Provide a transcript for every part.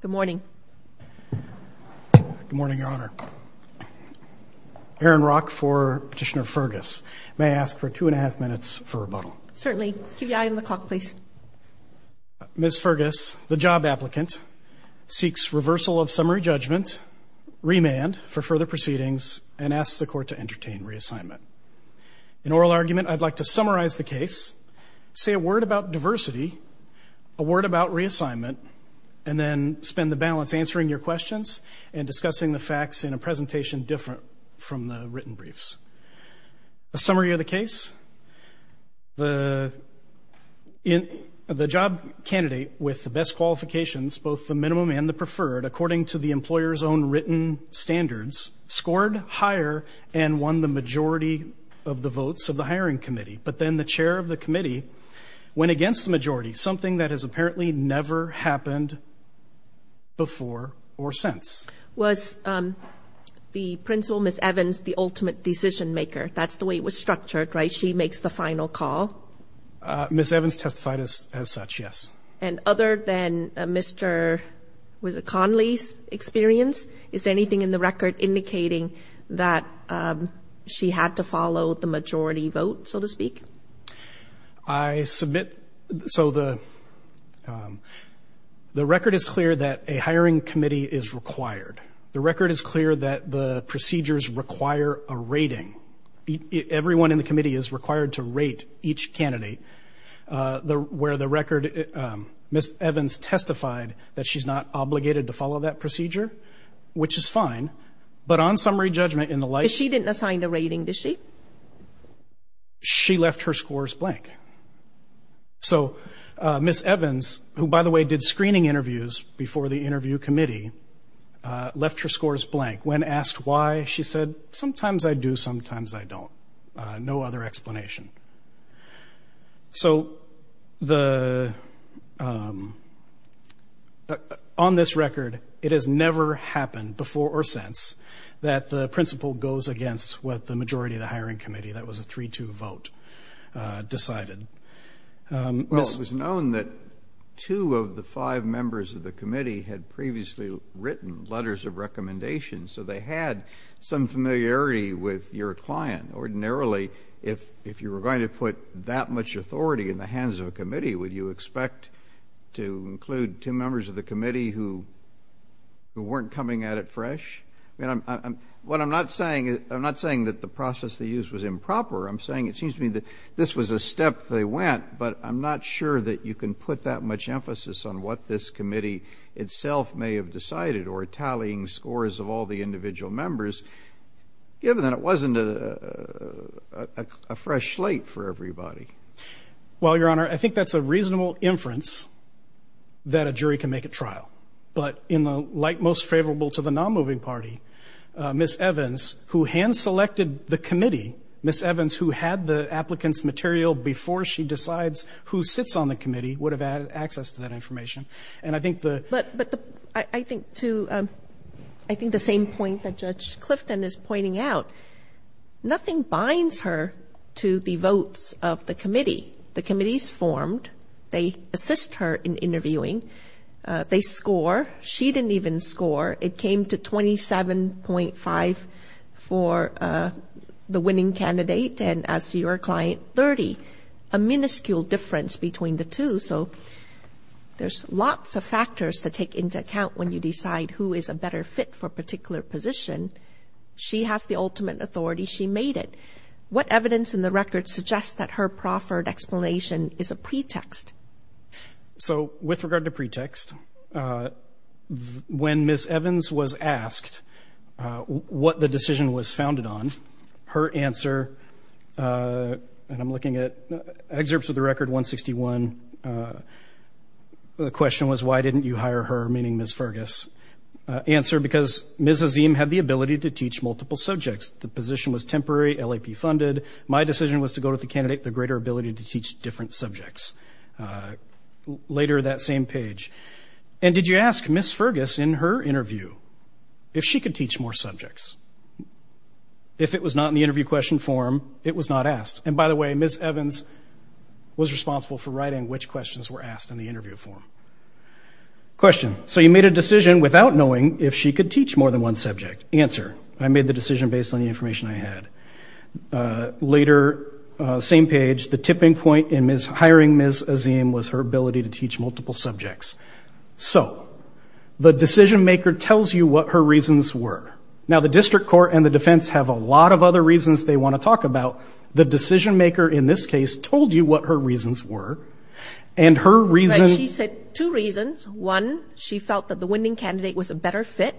Good morning. Good morning, Your Honor. Aaron Rock for Petitioner Fergus. May I ask for two and a half minutes for rebuttal? Certainly. Keep your eye on the clock, please. Ms. Fergus, the job applicant, seeks reversal of summary judgment, remand for further proceedings, and asks the court to entertain reassignment. In oral argument, I'd like to summarize the case, say a word about diversity, a word about reassignment, and then spend the balance answering your questions and discussing the facts in a presentation different from the written briefs. A summary of the case, the job candidate with the best qualifications, both the minimum and the preferred, according to the employer's own written standards, scored higher and won the majority of the votes of the hiring committee, but then the chair of never happened before or since. Was the principal, Ms. Evans, the ultimate decision-maker? That's the way it was structured, right? She makes the final call? Ms. Evans testified as such, yes. And other than Mr. Conley's experience, is there anything in the record indicating that she had to follow the majority vote, so to speak? I submit, so the the record is clear that a hiring committee is required. The record is clear that the procedures require a rating. Everyone in the committee is required to rate each candidate. Where the record, Ms. Evans testified that she's not obligated to follow that procedure, which is fine, but on summary judgment in the light... She didn't assign a rating, did she? She left her scores blank. So, Ms. Evans, who by the way did screening interviews before the interview committee, left her scores blank. When asked why, she said, sometimes I do, sometimes I don't. No other explanation. So, on this record, it has never happened before or since that the majority of the hiring committee, that was a 3-2 vote, decided. Well, it was known that two of the five members of the committee had previously written letters of recommendations, so they had some familiarity with your client. Ordinarily, if you were going to put that much authority in the hands of a committee, would you expect to include two members of the committee who weren't coming at fresh? What I'm not saying is, I'm not saying that the process they used was improper. I'm saying it seems to me that this was a step they went, but I'm not sure that you can put that much emphasis on what this committee itself may have decided or tallying scores of all the individual members, given that it wasn't a fresh slate for everybody. Well, Your Honor, I think that's a reasonable inference that a jury can make at trial, but in the light most favorable to the non-moving party, Ms. Evans, who hand-selected the committee, Ms. Evans, who had the applicants' material before she decides who sits on the committee, would have had access to that information. And I think the... But I think, too, I think the same point that Judge Clifton is pointing out. Nothing binds her to the votes of the committee. The committee's formed. They assist her in interviewing. They score. She didn't even score. It came to 27.5 for the winning candidate, and as your client, 30. A minuscule difference between the two. So there's lots of factors to take into account when you decide who is a better fit for particular position. She has the ultimate authority. She made it. What evidence in the record suggests that her proffered explanation is a pretext? So with regard to pretext, when Ms. Evans was asked what the decision was founded on, her answer, and I'm looking at excerpts of the record 161, the question was, why didn't you hire her, meaning Ms. Fergus? Answer, because Ms. Azeem had the ability to teach multiple subjects. The position was temporary, LAP funded. My decision was to go to the candidate with a greater ability to teach different subjects. Later, that same page, and did you ask Ms. Fergus in her interview if she could teach more subjects? If it was not in the interview question form, it was not asked. And by the way, Ms. Evans was responsible for writing which questions were asked in the interview form. Question, so you made a decision without knowing if she could teach more than one subject. Answer, I made the decision based on the information I had. Later, same page, the tipping point in hiring Ms. Azeem was her ability to teach multiple subjects. So, the decision-maker tells you what her reasons were. Now, the district court and the defense have a lot of other reasons they want to talk about. The decision-maker, in this case, told you what her reasons were, and her reason... She said two reasons. One, she felt that the winning candidate was a better fit,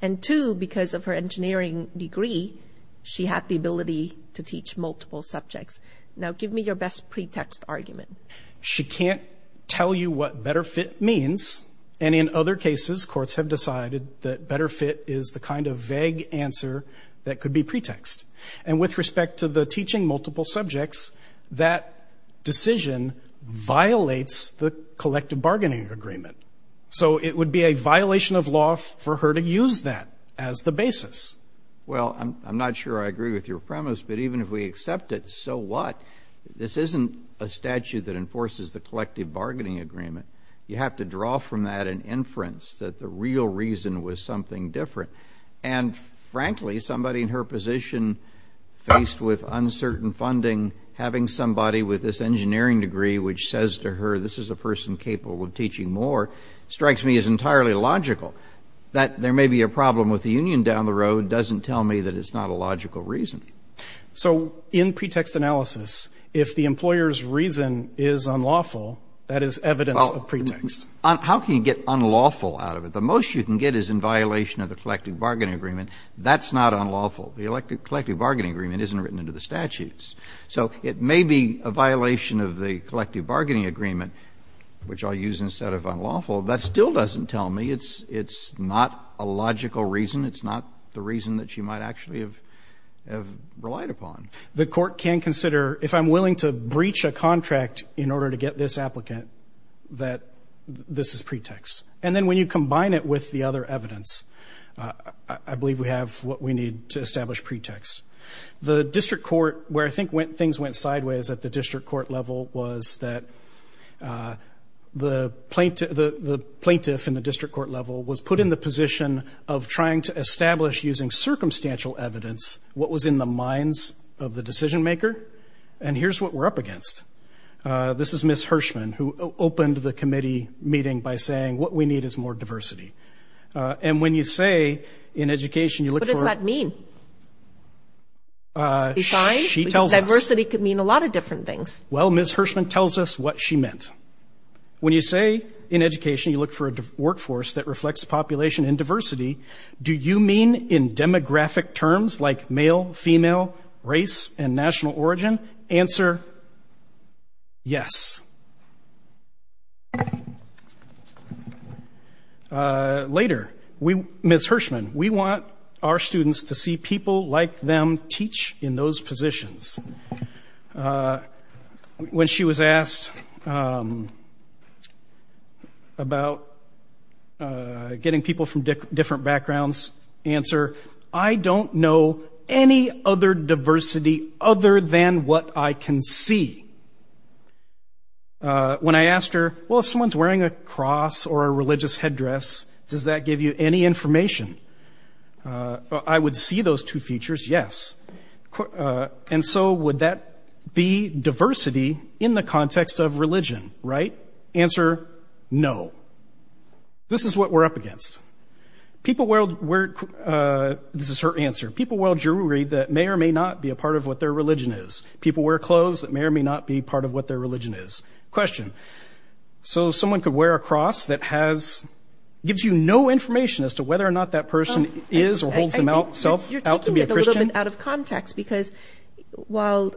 and two, because of her engineering degree, she had the ability to teach multiple subjects. Now, give me your best pretext argument. She can't tell you what better fit means, and in other cases, courts have decided that better fit is the kind of vague answer that could be pretext. And with respect to the teaching multiple subjects, that decision violates the collective bargaining agreement. So, it would be a violation of law for her to use that as the basis. Well, I'm not sure I agree with your premise, but even if we have a statute that enforces the collective bargaining agreement, you have to draw from that an inference that the real reason was something different. And, frankly, somebody in her position, faced with uncertain funding, having somebody with this engineering degree which says to her, this is a person capable of teaching more, strikes me as entirely logical. That there may be a problem with the union down the road doesn't tell me that it's not a logical reason. So, in other words, if there's reason is unlawful, that is evidence of pretext. Well, how can you get unlawful out of it? The most you can get is in violation of the collective bargaining agreement. That's not unlawful. The collective bargaining agreement isn't written into the statutes. So, it may be a violation of the collective bargaining agreement, which I'll use instead of unlawful, but still doesn't tell me it's not a logical reason. It's not the reason that she might actually have relied upon. The Court can consider, if I'm willing to breach a collective bargaining contract in order to get this applicant, that this is pretext. And then, when you combine it with the other evidence, I believe we have what we need to establish pretext. The District Court, where I think things went sideways at the District Court level, was that the plaintiff in the District Court level was put in the position of trying to establish, using circumstantial evidence, what was in the minds of the decision maker. And here's what we're up against. This is Ms. Hirschman, who opened the committee meeting by saying, what we need is more diversity. And when you say, in education, you look for... What does that mean? She tells us... Diversity could mean a lot of different things. Well, Ms. Hirschman tells us what she meant. When you say, in education, you look for a workforce that reflects population and diversity, do you mean in demographic terms like male, female, race, and national origin? Answer, yes. Later, Ms. Hirschman, we want our students to see people like them teach in those positions. When she was asked about getting people from different backgrounds, answer, I don't know any other diversity other than what I can see. When I asked her, well, if someone's wearing a cross or a religious headdress, does that give you any information? I would see those two features, yes. And so, would that be diversity in the context of religion? Right? Answer, no. This is what we're up against. People wear... This is her answer. People wear jewelry that may or may not be a part of what their religion is. People wear clothes that may or may not be part of what their religion is. Question. So, someone could wear a cross that has... Gives you no information as to whether or not that person is or holds them out to be a Christian? You're taking it a little bit out of context, because while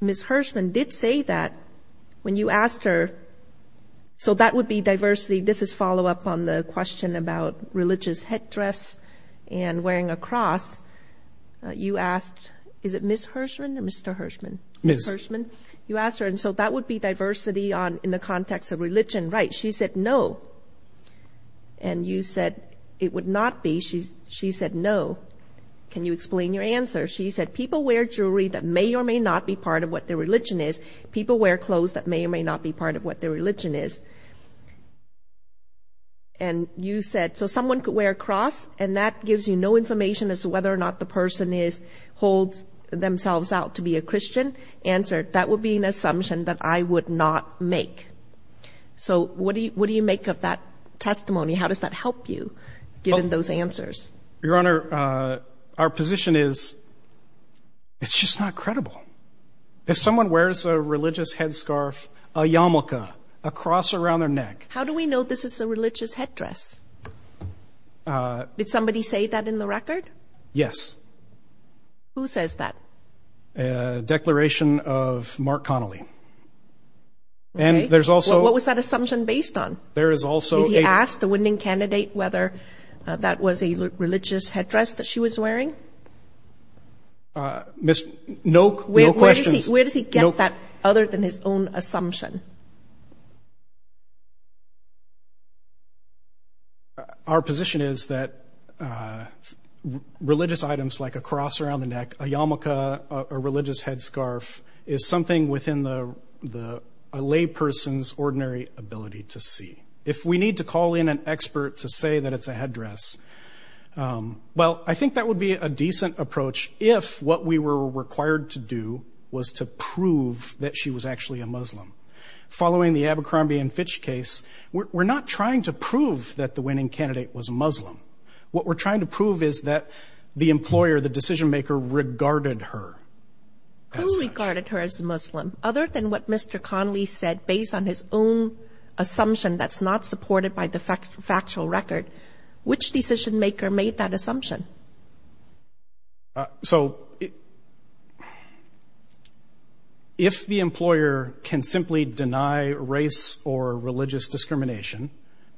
Ms. Hirschman did say that, when you asked her, so that would be diversity. This is follow-up on the question about religious headdress and wearing a cross. You asked, is it Ms. Hirschman or Mr. Hirschman? Ms. Hirschman. You asked her, and so that would be diversity on in the context of religion. Right. She said, no. And you said, it would not be. She said, no. Can you explain your answer? She said, people wear jewelry that may or may not be part of what their religion is. People wear clothes that may or may not be part of what their religion is. And you said, so someone could wear a cross, and that gives you no information as to whether or not the person is, holds themselves out to be a Christian? Answer, that would be an assumption that I would not make. So what do you make of that testimony? How does that help you, given those answers? Your Honor, our position is, it's just not credible. If someone wears a religious headscarf, a yarmulke, a cross around their neck. How do we know this is a religious headdress? Did somebody say that in the record? Yes. Who says that? A declaration of Mark Connolly. And there's also. What was that assumption based on? There is also. He asked the winning candidate whether that was a religious headdress that she was wearing. No questions. Where does he get that other than his own assumption? Our position is that religious items like a cross around the neck, a yarmulke, a religious headscarf is something within the lay person's ordinary ability to see. If we need to call in an expert to say that it's a headdress. Well, I think that would be a decent approach if what we were required to do was to prove that she was actually a Muslim. Following the Abercrombie and Fitch case, we're not trying to prove that the winning candidate was Muslim. What we're trying to prove is that the employer, the decision maker, regarded her as such. Who regarded her as Muslim? Other than what Mr. Connolly said, based on his own assumption that's not supported by the factual record. Which decision maker made that assumption? So. If the employer can simply deny race or religious discrimination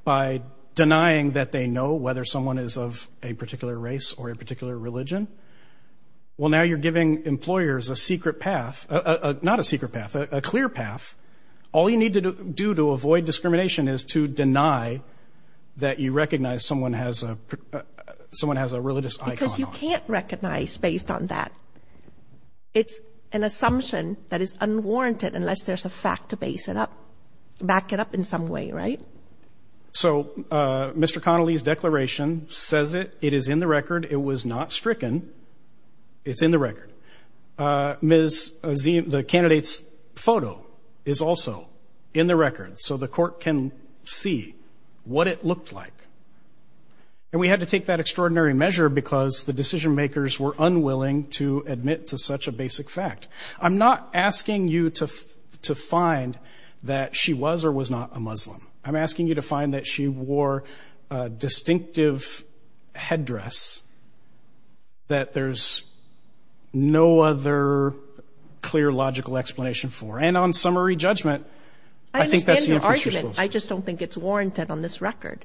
by denying that they know whether someone is of a particular race or a particular religion. Well, now you're giving employers a secret path, not a secret path, a clear path. All you need to do to avoid discrimination is to deny that you recognize someone has a someone has a religious. Because you can't recognize based on that. It's an assumption that is unwarranted unless there's a fact to base it up, back it up in some way. Right. So Mr. Connolly's declaration says it. It is in the record. It was not stricken. It's in the record. Ms. Z, the candidate's photo is also in the record so the court can see what it looked like. And we had to take that extraordinary measure because the decision makers were unwilling to admit to such a basic fact. I'm not asking you to to find that she was or was not a Muslim. I'm asking you to find that she wore a distinctive headdress that there's no other clear logical explanation for. And on summary judgment, I think that's the argument. I just don't think it's warranted on this record.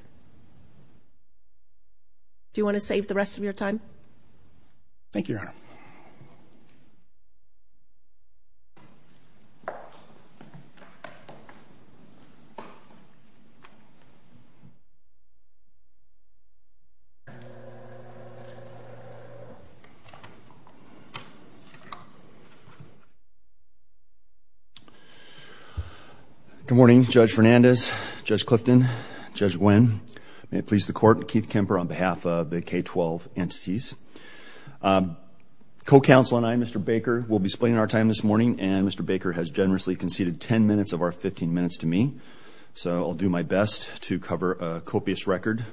Do you want to save the rest of your time? Thank you, Your Honor. Good morning, Judge Fernandez, Judge Clifton, Judge Nguyen. May it please the Court, Keith Kemper on behalf of the K-12 entities. Co-counsel and I, Mr. Baker, will be splitting our time this morning. And Mr. Baker has generously conceded 10 minutes of our 15 minutes to me. So I'll do my best to cover a copious record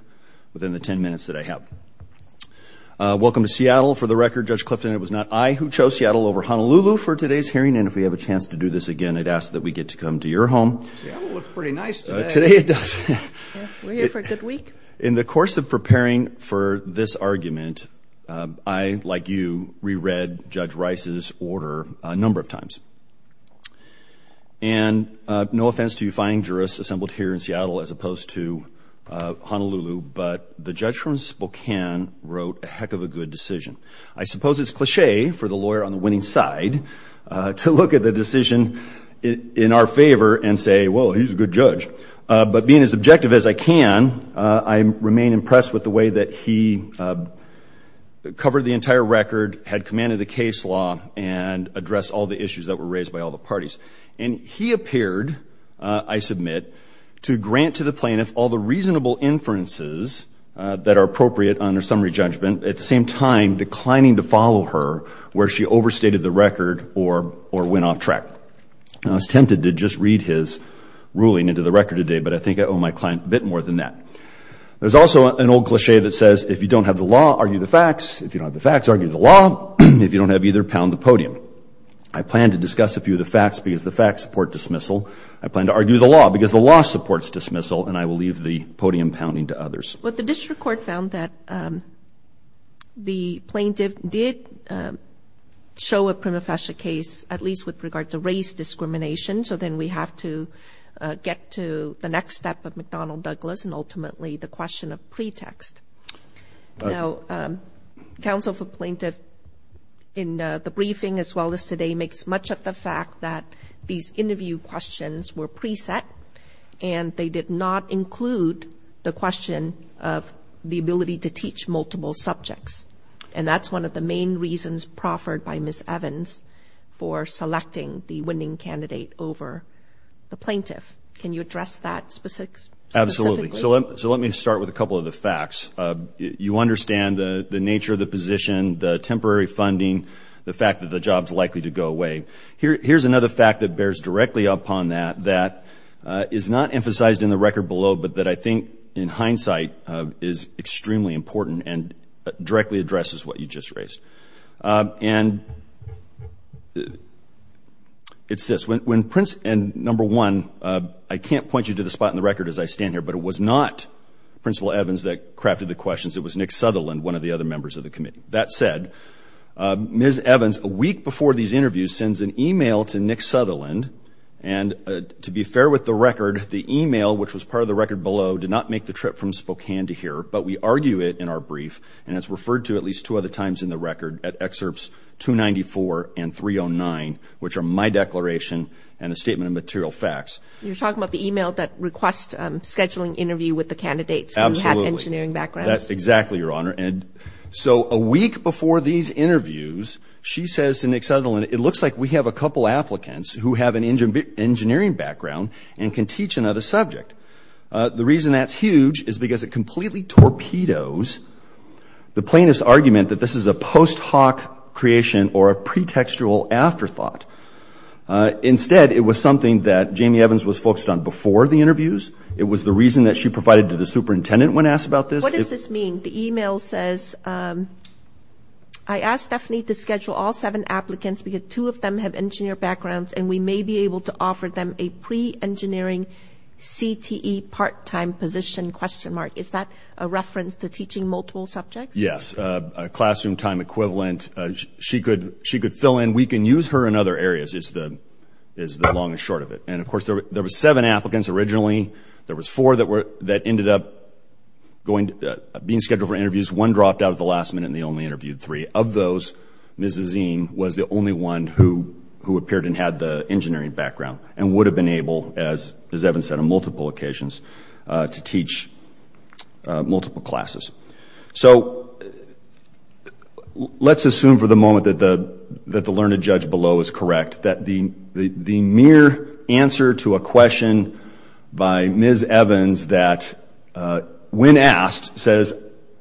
within the 10 minutes that I have. Welcome to Seattle. For the record, Judge Clifton, it was not I who chose Seattle over Honolulu for today's hearing. And if we have a chance to do this again, I'd ask that we get to come to your home. Seattle looks pretty nice today. Today it does. We're here for a good week. In the course of preparing for this argument, I, like you, re-read Judge Rice's order a number of times. And no offense to you fine jurists assembled here in Seattle as opposed to Honolulu, but the judge from Spokane wrote a heck of a good decision. I suppose it's cliche for the lawyer on the winning side to look at the decision in our favor and say, well, he's a good judge. But being as objective as I can, I remain impressed with the way that he covered the entire record, had commanded the case law, and addressed all the issues that were raised by all the parties. And he appeared, I submit, to grant to the plaintiff all the reasonable inferences that are appropriate under summary judgment, at the same time declining to follow her where she overstated the record or went off track. I was tempted to just read his ruling into the record today, but I think I owe my client a bit more than that. There's also an old cliche that says, if you don't have the law, argue the facts. If you don't have the facts, argue the law. If you don't have either, pound the podium. I plan to discuss a few of the facts because the facts support dismissal. I plan to argue the law because the law supports dismissal, and I will leave the podium pounding to others. Well, the district court found that the plaintiff did show a prima facie case, at least with regard to race discrimination, so then we have to get to the next step of McDonnell-Douglas and ultimately the question of pretext. Now, counsel for plaintiff in the briefing as well as today makes much of the fact that these interview questions were preset, and they did not include the question of the ability to teach multiple subjects, and that's one of the main reasons proffered by Ms. Evans for selecting the winning candidate over the plaintiff. Can you address that specifically? Absolutely. So let me start with a couple of the facts. You understand the nature of the position, the temporary funding, the fact that the job's likely to go away. Here's another fact that bears directly upon that that is not emphasized in the record below, but that I think in hindsight is extremely important and directly addresses what you just raised. And it's this. Number one, I can't point you to the spot in the record as I stand here, but it was not Principal Evans that crafted the questions. It was Nick Sutherland, one of the other members of the committee. That said, Ms. Evans, a week before these interviews, sends an e-mail to Nick Sutherland, and to be fair with the record, the e-mail, which was part of the record below, did not make the trip from Spokane to here, but we argue it in our brief, and it's referred to at least two other times in the record at Excerpts 294 and 309, which are my declaration and a statement of material facts. You're talking about the e-mail that requests scheduling interview with the candidates who have engineering backgrounds. Absolutely. That's exactly, Your Honor. And so a week before these interviews, she says to Nick Sutherland, it looks like we have a couple applicants who have an engineering background and can teach another subject. The reason that's huge is because it completely torpedoes the plaintiff's argument that this is a post hoc creation or a pretextual afterthought. Instead, it was something that Jamie Evans was focused on before the interviews. It was the reason that she provided to the superintendent when asked about this. What does this mean? The e-mail says, I asked Stephanie to schedule all seven applicants because two of them have engineer backgrounds and we may be able to offer them a pre-engineering CTE part-time position? Is that a reference to teaching multiple subjects? Yes, classroom time equivalent. She could fill in. We can use her in other areas is the long and short of it. And, of course, there were seven applicants originally. There were four that ended up being scheduled for interviews. One dropped out at the last minute and they only interviewed three. Of those, Ms. Azeem was the only one who appeared and had the engineering background and would have been able, as Evans said on multiple occasions, to teach multiple classes. So let's assume for the moment that the learned judge below is correct, that the mere answer to a question by Ms. Evans that, when asked, says,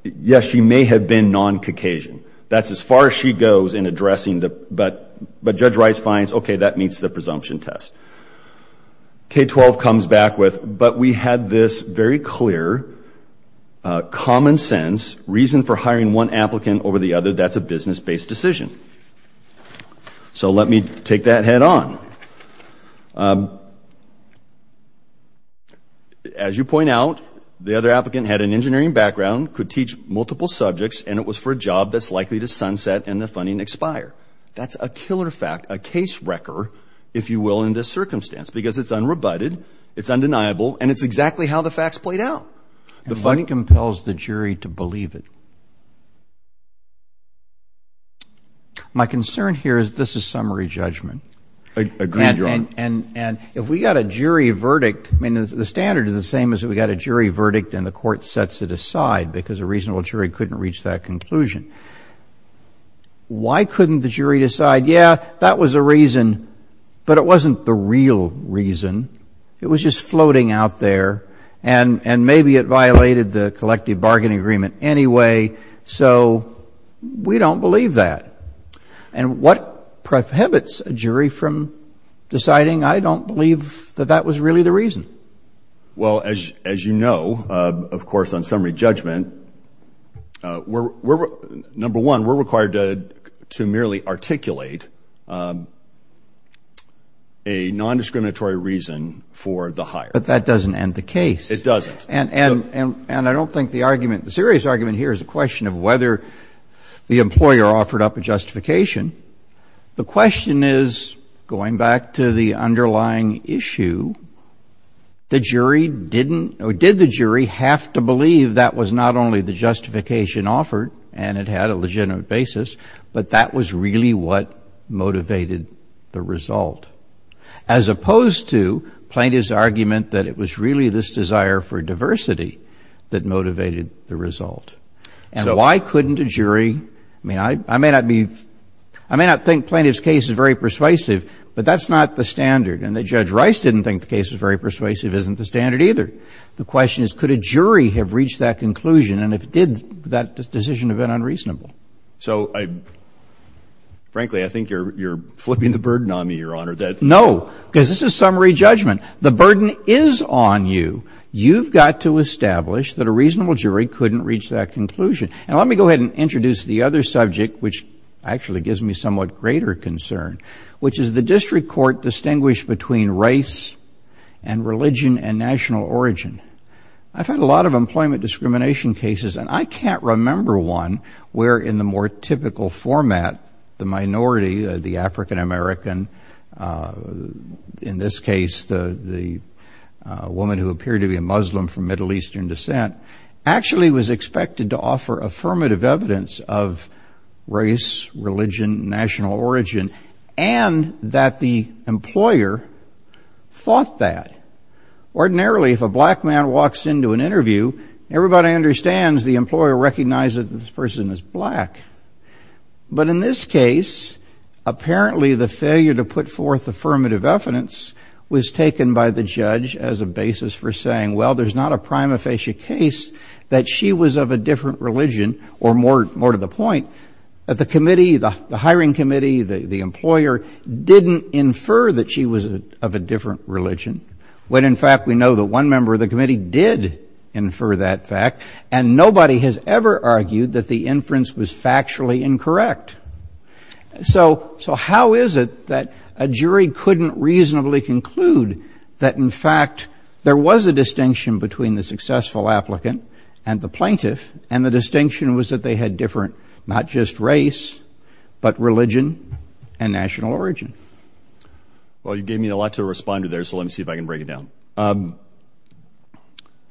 yes, she may have been non-Caucasian. That's as far as she goes in addressing the, but Judge Rice finds, okay, that meets the presumption test. K-12 comes back with, but we had this very clear common sense reason for hiring one applicant over the other. That's a business-based decision. So let me take that head on. As you point out, the other applicant had an engineering background, could teach multiple subjects, and it was for a job that's likely to sunset and the funding expire. That's a killer fact, a case wrecker, if you will, in this circumstance, because it's unrebutted, it's undeniable, and it's exactly how the facts played out. The funding compels the jury to believe it. My concern here is this is summary judgment. Agreed, Your Honor. And if we got a jury verdict, I mean, the standard is the same as if we got a jury verdict and the court sets it aside because a reasonable jury couldn't reach that conclusion. Why couldn't the jury decide, yeah, that was the reason, but it wasn't the real reason? It was just floating out there, and maybe it violated the collective bargaining agreement anyway. So we don't believe that. And what prohibits a jury from deciding I don't believe that that was really the reason? Well, as you know, of course, on summary judgment, number one, we're required to merely articulate a nondiscriminatory reason for the hire. But that doesn't end the case. It doesn't. And I don't think the argument, the serious argument here is a question of whether the employer offered up a justification. The question is, going back to the underlying issue, the jury didn't or did the jury have to believe that was not only the justification offered and it had a legitimate basis, but that was really what motivated the result, as opposed to plaintiff's argument that it was really this desire for diversity that motivated the result. And why couldn't a jury, I mean, I may not be, I may not think plaintiff's case is very persuasive, but that's not the standard. And that Judge Rice didn't think the case was very persuasive isn't the standard either. The question is, could a jury have reached that conclusion, and did that decision have been unreasonable? So, frankly, I think you're flipping the burden on me, Your Honor. No. Because this is summary judgment. The burden is on you. You've got to establish that a reasonable jury couldn't reach that conclusion. And let me go ahead and introduce the other subject, which actually gives me somewhat greater concern, which is the district court distinguished between race and religion and national origin. I've had a lot of employment discrimination cases, and I can't remember one where, in the more typical format, the minority, the African-American, in this case, the woman who appeared to be a Muslim from Middle Eastern descent, actually was expected to offer affirmative evidence of race, religion, national origin, and that the employer thought that. Ordinarily, if a black man walks into an interview, everybody understands the employer recognizes that this person is black. But in this case, apparently the failure to put forth affirmative evidence was taken by the judge as a basis for saying, well, there's not a prima facie case that she was of a different religion, or more to the point, that the committee, the hiring committee, the employer didn't infer that she was of a different religion, when, in fact, we know that one member of the committee did infer that fact, and nobody has ever argued that the inference was factually incorrect. So how is it that a jury couldn't reasonably conclude that, in fact, there was a distinction between the successful applicant and the plaintiff, and the distinction was that they had different not just race, but religion and national origin? Well, you gave me a lot to respond to there, so let me see if I can break it down.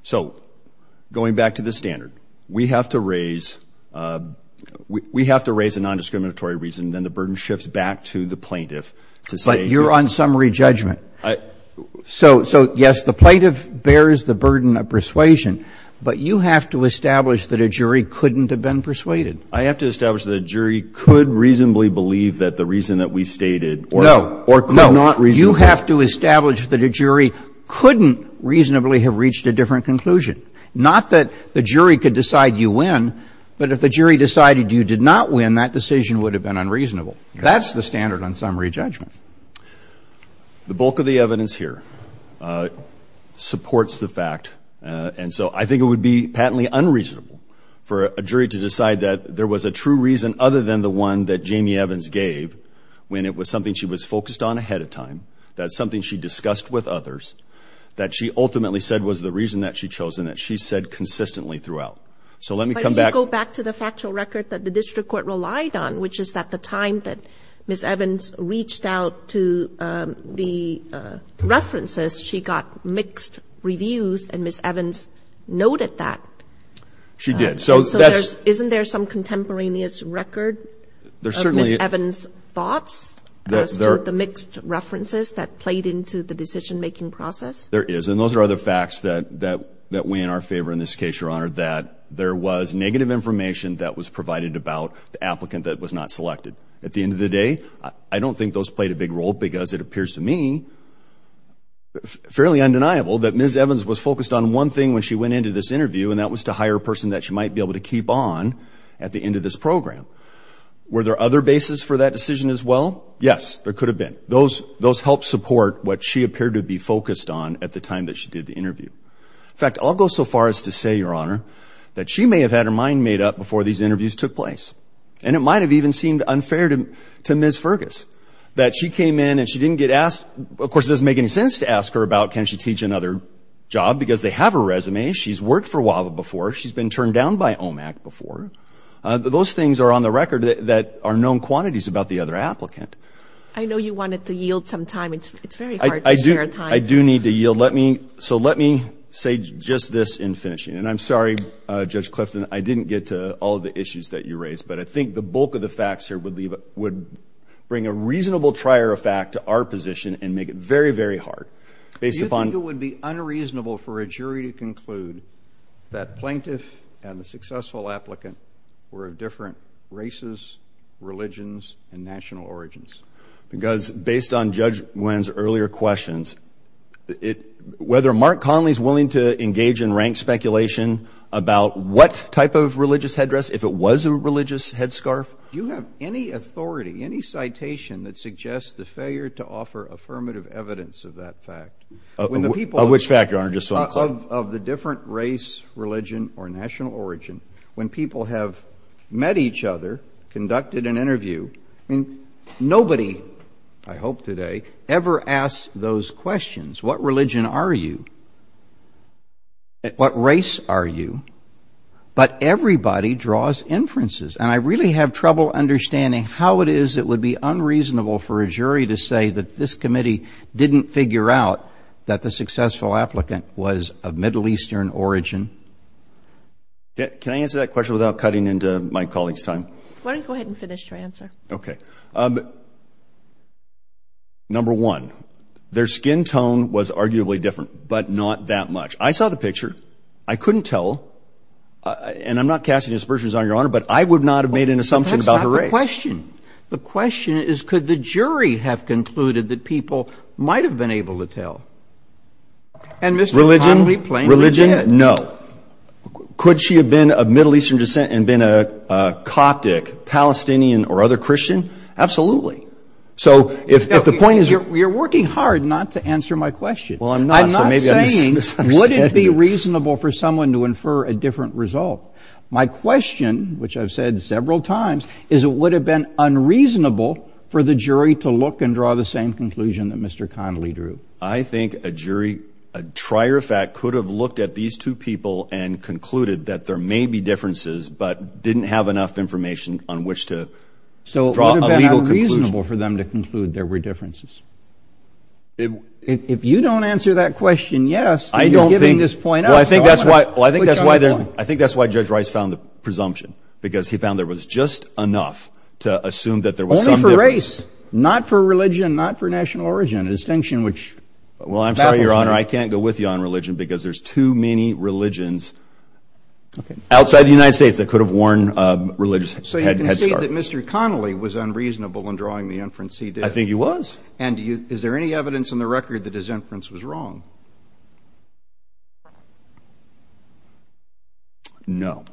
So going back to the standard, we have to raise a nondiscriminatory reason, then the burden shifts back to the plaintiff to say you're on summary judgment. So, yes, the plaintiff bears the burden of persuasion, but you have to establish that a jury couldn't have been persuaded. I have to establish that a jury could reasonably believe that the reason that we stated or could not reasonably believe. You have to establish that a jury couldn't reasonably have reached a different conclusion. Not that the jury could decide you win, but if the jury decided you did not win, that decision would have been unreasonable. That's the standard on summary judgment. The bulk of the evidence here supports the fact, and so I think it would be patently unreasonable for a jury to decide that there was a true reason other than the one that Jamie Evans gave when it was something she was focused on ahead of time, that's something she discussed with others, that she ultimately said was the reason that she chose and that she said consistently throughout. So let me come back. But you go back to the factual record that the district court relied on, which is at the time that Ms. Evans reached out to the references, she got mixed reviews, and Ms. Evans noted that. She did. So isn't there some contemporaneous record of Ms. Evans' thoughts as to the mixed references that played into the decision-making process? There is, and those are other facts that weigh in our favor in this case, Your Honor, that there was negative information that was provided about the applicant that was not selected. At the end of the day, I don't think those played a big role because it appears to me, fairly undeniable, that Ms. Evans was focused on one thing when she went into this interview, and that was to hire a person that she might be able to keep on at the end of this program. Were there other bases for that decision as well? Yes, there could have been. Those helped support what she appeared to be focused on at the time that she did the interview. In fact, I'll go so far as to say, Your Honor, that she may have had her mind made up before these interviews took place, and it might have even seemed unfair to Ms. Fergus that she came in and she didn't get asked. Of course, it doesn't make any sense to ask her about can she teach another job because they have her resume. She's worked for WAVA before. She's been turned down by OMAC before. Those things are on the record that are known quantities about the other applicant. I know you wanted to yield some time. It's very hard to share time. I do need to yield. So let me say just this in finishing, and I'm sorry, Judge Clifton, I didn't get to all of the issues that you raised, but I think the bulk of the facts here would bring a reasonable trier of fact to our position and make it very, very hard. Do you think it would be unreasonable for a jury to conclude that plaintiff and the successful applicant were of different races, religions, and national origins? Because based on Judge Nguyen's earlier questions, whether Mark Conley is willing to engage in rank speculation about what type of religious headdress, if it was a religious headscarf, do you have any authority, any citation that suggests the failure to offer affirmative evidence of that fact? Of which fact, Your Honor? Just so I'm clear. Of the different race, religion, or national origin, when people have met each other, conducted an interview, I mean, nobody, I hope today, ever asks those questions. What religion are you? What race are you? But everybody draws inferences. And I really have trouble understanding how it is it would be unreasonable for a jury to say that this committee didn't figure out that the successful applicant was of Middle Eastern origin. Can I answer that question without cutting into my colleague's time? Why don't you go ahead and finish your answer. Okay. Number one, their skin tone was arguably different, but not that much. I saw the picture. I couldn't tell. And I'm not casting aspersions on Your Honor, but I would not have made an assumption about her race. But that's not the question. The question is, could the jury have concluded that people might have been able to tell? And Mr. O'Connolly plainly did. Religion? No. Could she have been of Middle Eastern descent and been a Coptic, Palestinian, or other Christian? Absolutely. So if the point is you're working hard not to answer my question. Well, I'm not. I'm not saying would it be reasonable for someone to infer a different result. My question, which I've said several times, is it would have been unreasonable for the jury to look and draw the same conclusion that Mr. O'Connolly drew. I think a jury, a trier of fact, could have looked at these two people and concluded that there may be differences but didn't have enough information on which to draw a legal conclusion. So it would have been unreasonable for them to conclude there were differences. If you don't answer that question yes, then you're giving this point up. Well, I think that's why Judge Rice found the presumption, because he found there was just enough to assume that there was some difference. Only for race, not for religion, not for national origin, a distinction which baffles me. Well, I'm sorry, Your Honor. I can't go with you on religion because there's too many religions outside the United States that could have worn religious headscarves. So you can say that Mr. O'Connolly was unreasonable in drawing the inference he did. I think he was. And is there any evidence in the record that his inference was wrong? No.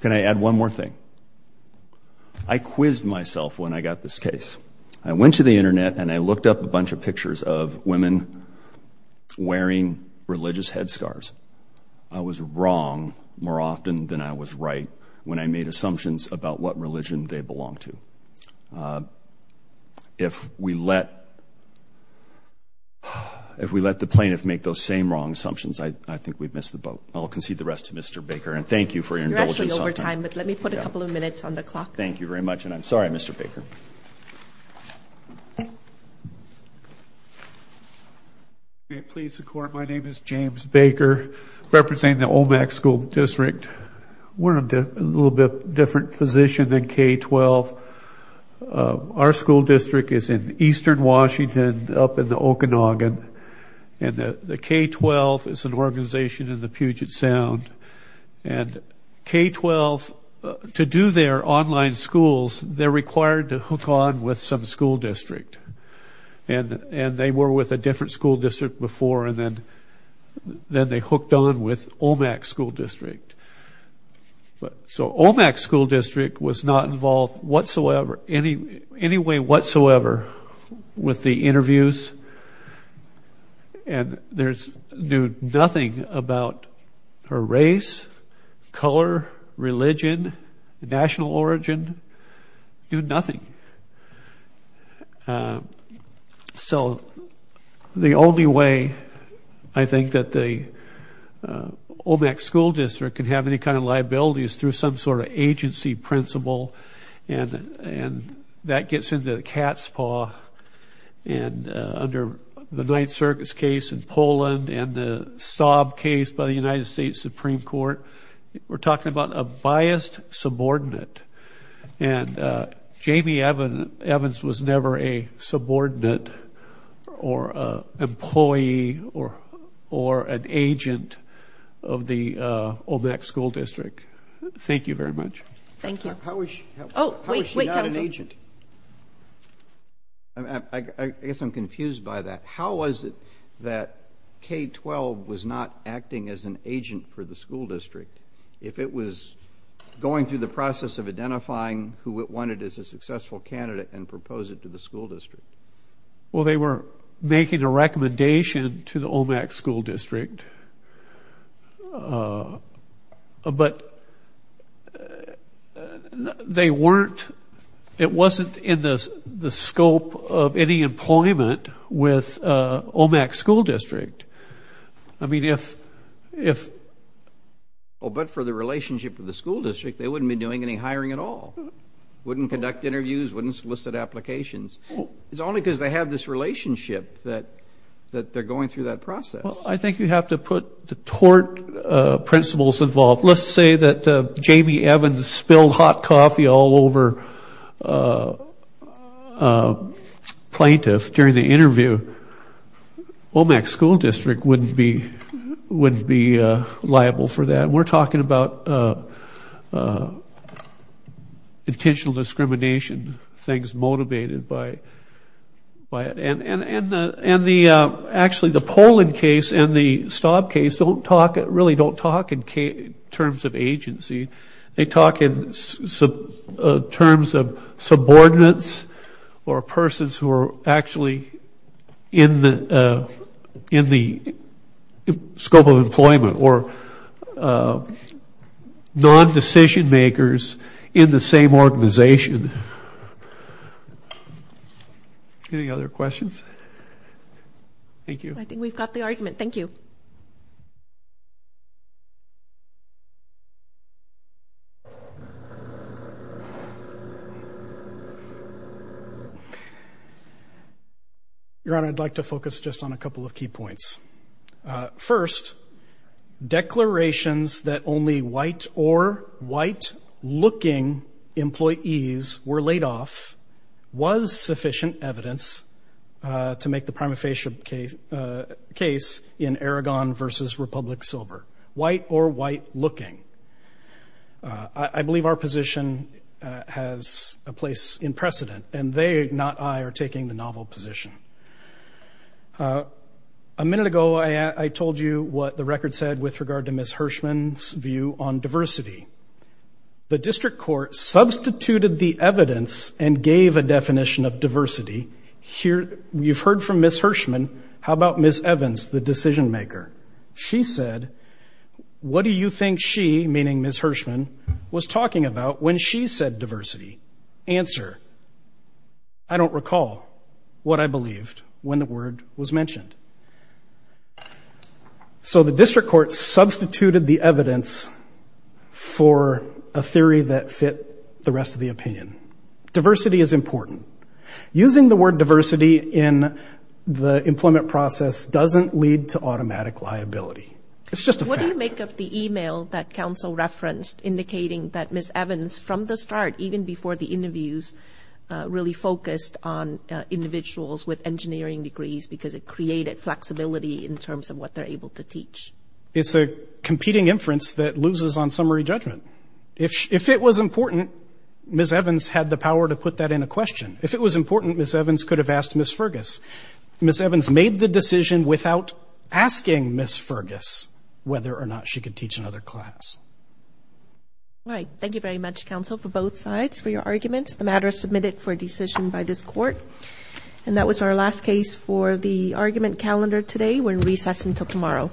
Can I add one more thing? I quizzed myself when I got this case. I went to the Internet and I looked up a bunch of pictures of women wearing religious headscarves. I was wrong more often than I was right when I made assumptions about what religion they belonged to. If we let the plaintiff make those same wrong assumptions, I think we'd miss the boat. I'll concede the rest to Mr. Baker, and thank you for your indulgence. You're actually over time, but let me put a couple of minutes on the clock. Thank you very much, and I'm sorry, Mr. Baker. Thank you. May it please the Court, my name is James Baker, representing the Olmec School District. We're in a little bit different position than K-12. Our school district is in eastern Washington up in the Okanagan, and the K-12 is an organization in the Puget Sound. And K-12, to do their online schools, they're required to hook on with some school district. And they were with a different school district before, and then they hooked on with Olmec School District. So Olmec School District was not involved whatsoever, any way whatsoever, with the interviews, and knew nothing about her race, color, religion, national origin, knew nothing. So the only way, I think, that the Olmec School District can have any kind of liability is through some sort of agency principle, and that gets into the cat's paw. And under the Ninth Circus case in Poland and the Staub case by the United States Supreme Court, we're talking about a biased subordinate. And Jamie Evans was never a subordinate or an employee or an agent of the Olmec School District. Thank you very much. Thank you. How is she not an agent? I guess I'm confused by that. How was it that K-12 was not acting as an agent for the school district if it was going through the process of identifying who it wanted as a successful candidate and propose it to the school district? Well, they were making a recommendation to the Olmec School District, but they weren't, it wasn't in the scope of any employment with Olmec School District. I mean, if... Oh, but for the relationship with the school district, they wouldn't be doing any hiring at all. Wouldn't conduct interviews, wouldn't solicit applications. It's only because they have this relationship that they're going through that process. Well, I think you have to put the tort principles involved. Let's say that Jamie Evans spilled hot coffee all over a plaintiff during the interview. Olmec School District wouldn't be liable for that. We're talking about intentional discrimination, things motivated by it. Actually, the Poland case and the Staub case really don't talk in terms of agency. They talk in terms of subordinates or persons who are actually in the scope of employment or non-decision makers in the same organization. Thank you. Any other questions? Thank you. I think we've got the argument. Thank you. Your Honor, I'd like to focus just on a couple of key points. First, declarations that only white or white-looking employees were laid off was sufficient evidence to make the prima facie case in Aragon v. Republic Silver. White or white-looking. I believe our position has a place in precedent, and they, not I, are taking the novel position. A minute ago, I told you what the record said with regard to Ms. Hirschman's view on diversity. The district court substituted the evidence and gave a definition of diversity. You've heard from Ms. Hirschman. How about Ms. Evans, the decision maker? She said, what do you think she, meaning Ms. Hirschman, was talking about when she said diversity? Answer, I don't recall what I believed when the word was mentioned. So the district court substituted the evidence for a theory that fit the rest of the opinion. Diversity is important. Using the word diversity in the employment process doesn't lead to automatic liability. It's just a fact. The topic of the e-mail that counsel referenced indicating that Ms. Evans, from the start, even before the interviews, really focused on individuals with engineering degrees because it created flexibility in terms of what they're able to teach. It's a competing inference that loses on summary judgment. If it was important, Ms. Evans had the power to put that in a question. If it was important, Ms. Evans could have asked Ms. Fergus. Ms. Evans made the decision without asking Ms. Fergus whether or not she could teach another class. All right. Thank you very much, counsel, for both sides for your arguments. The matter is submitted for decision by this court. And that was our last case for the argument calendar today. We're in recess until tomorrow.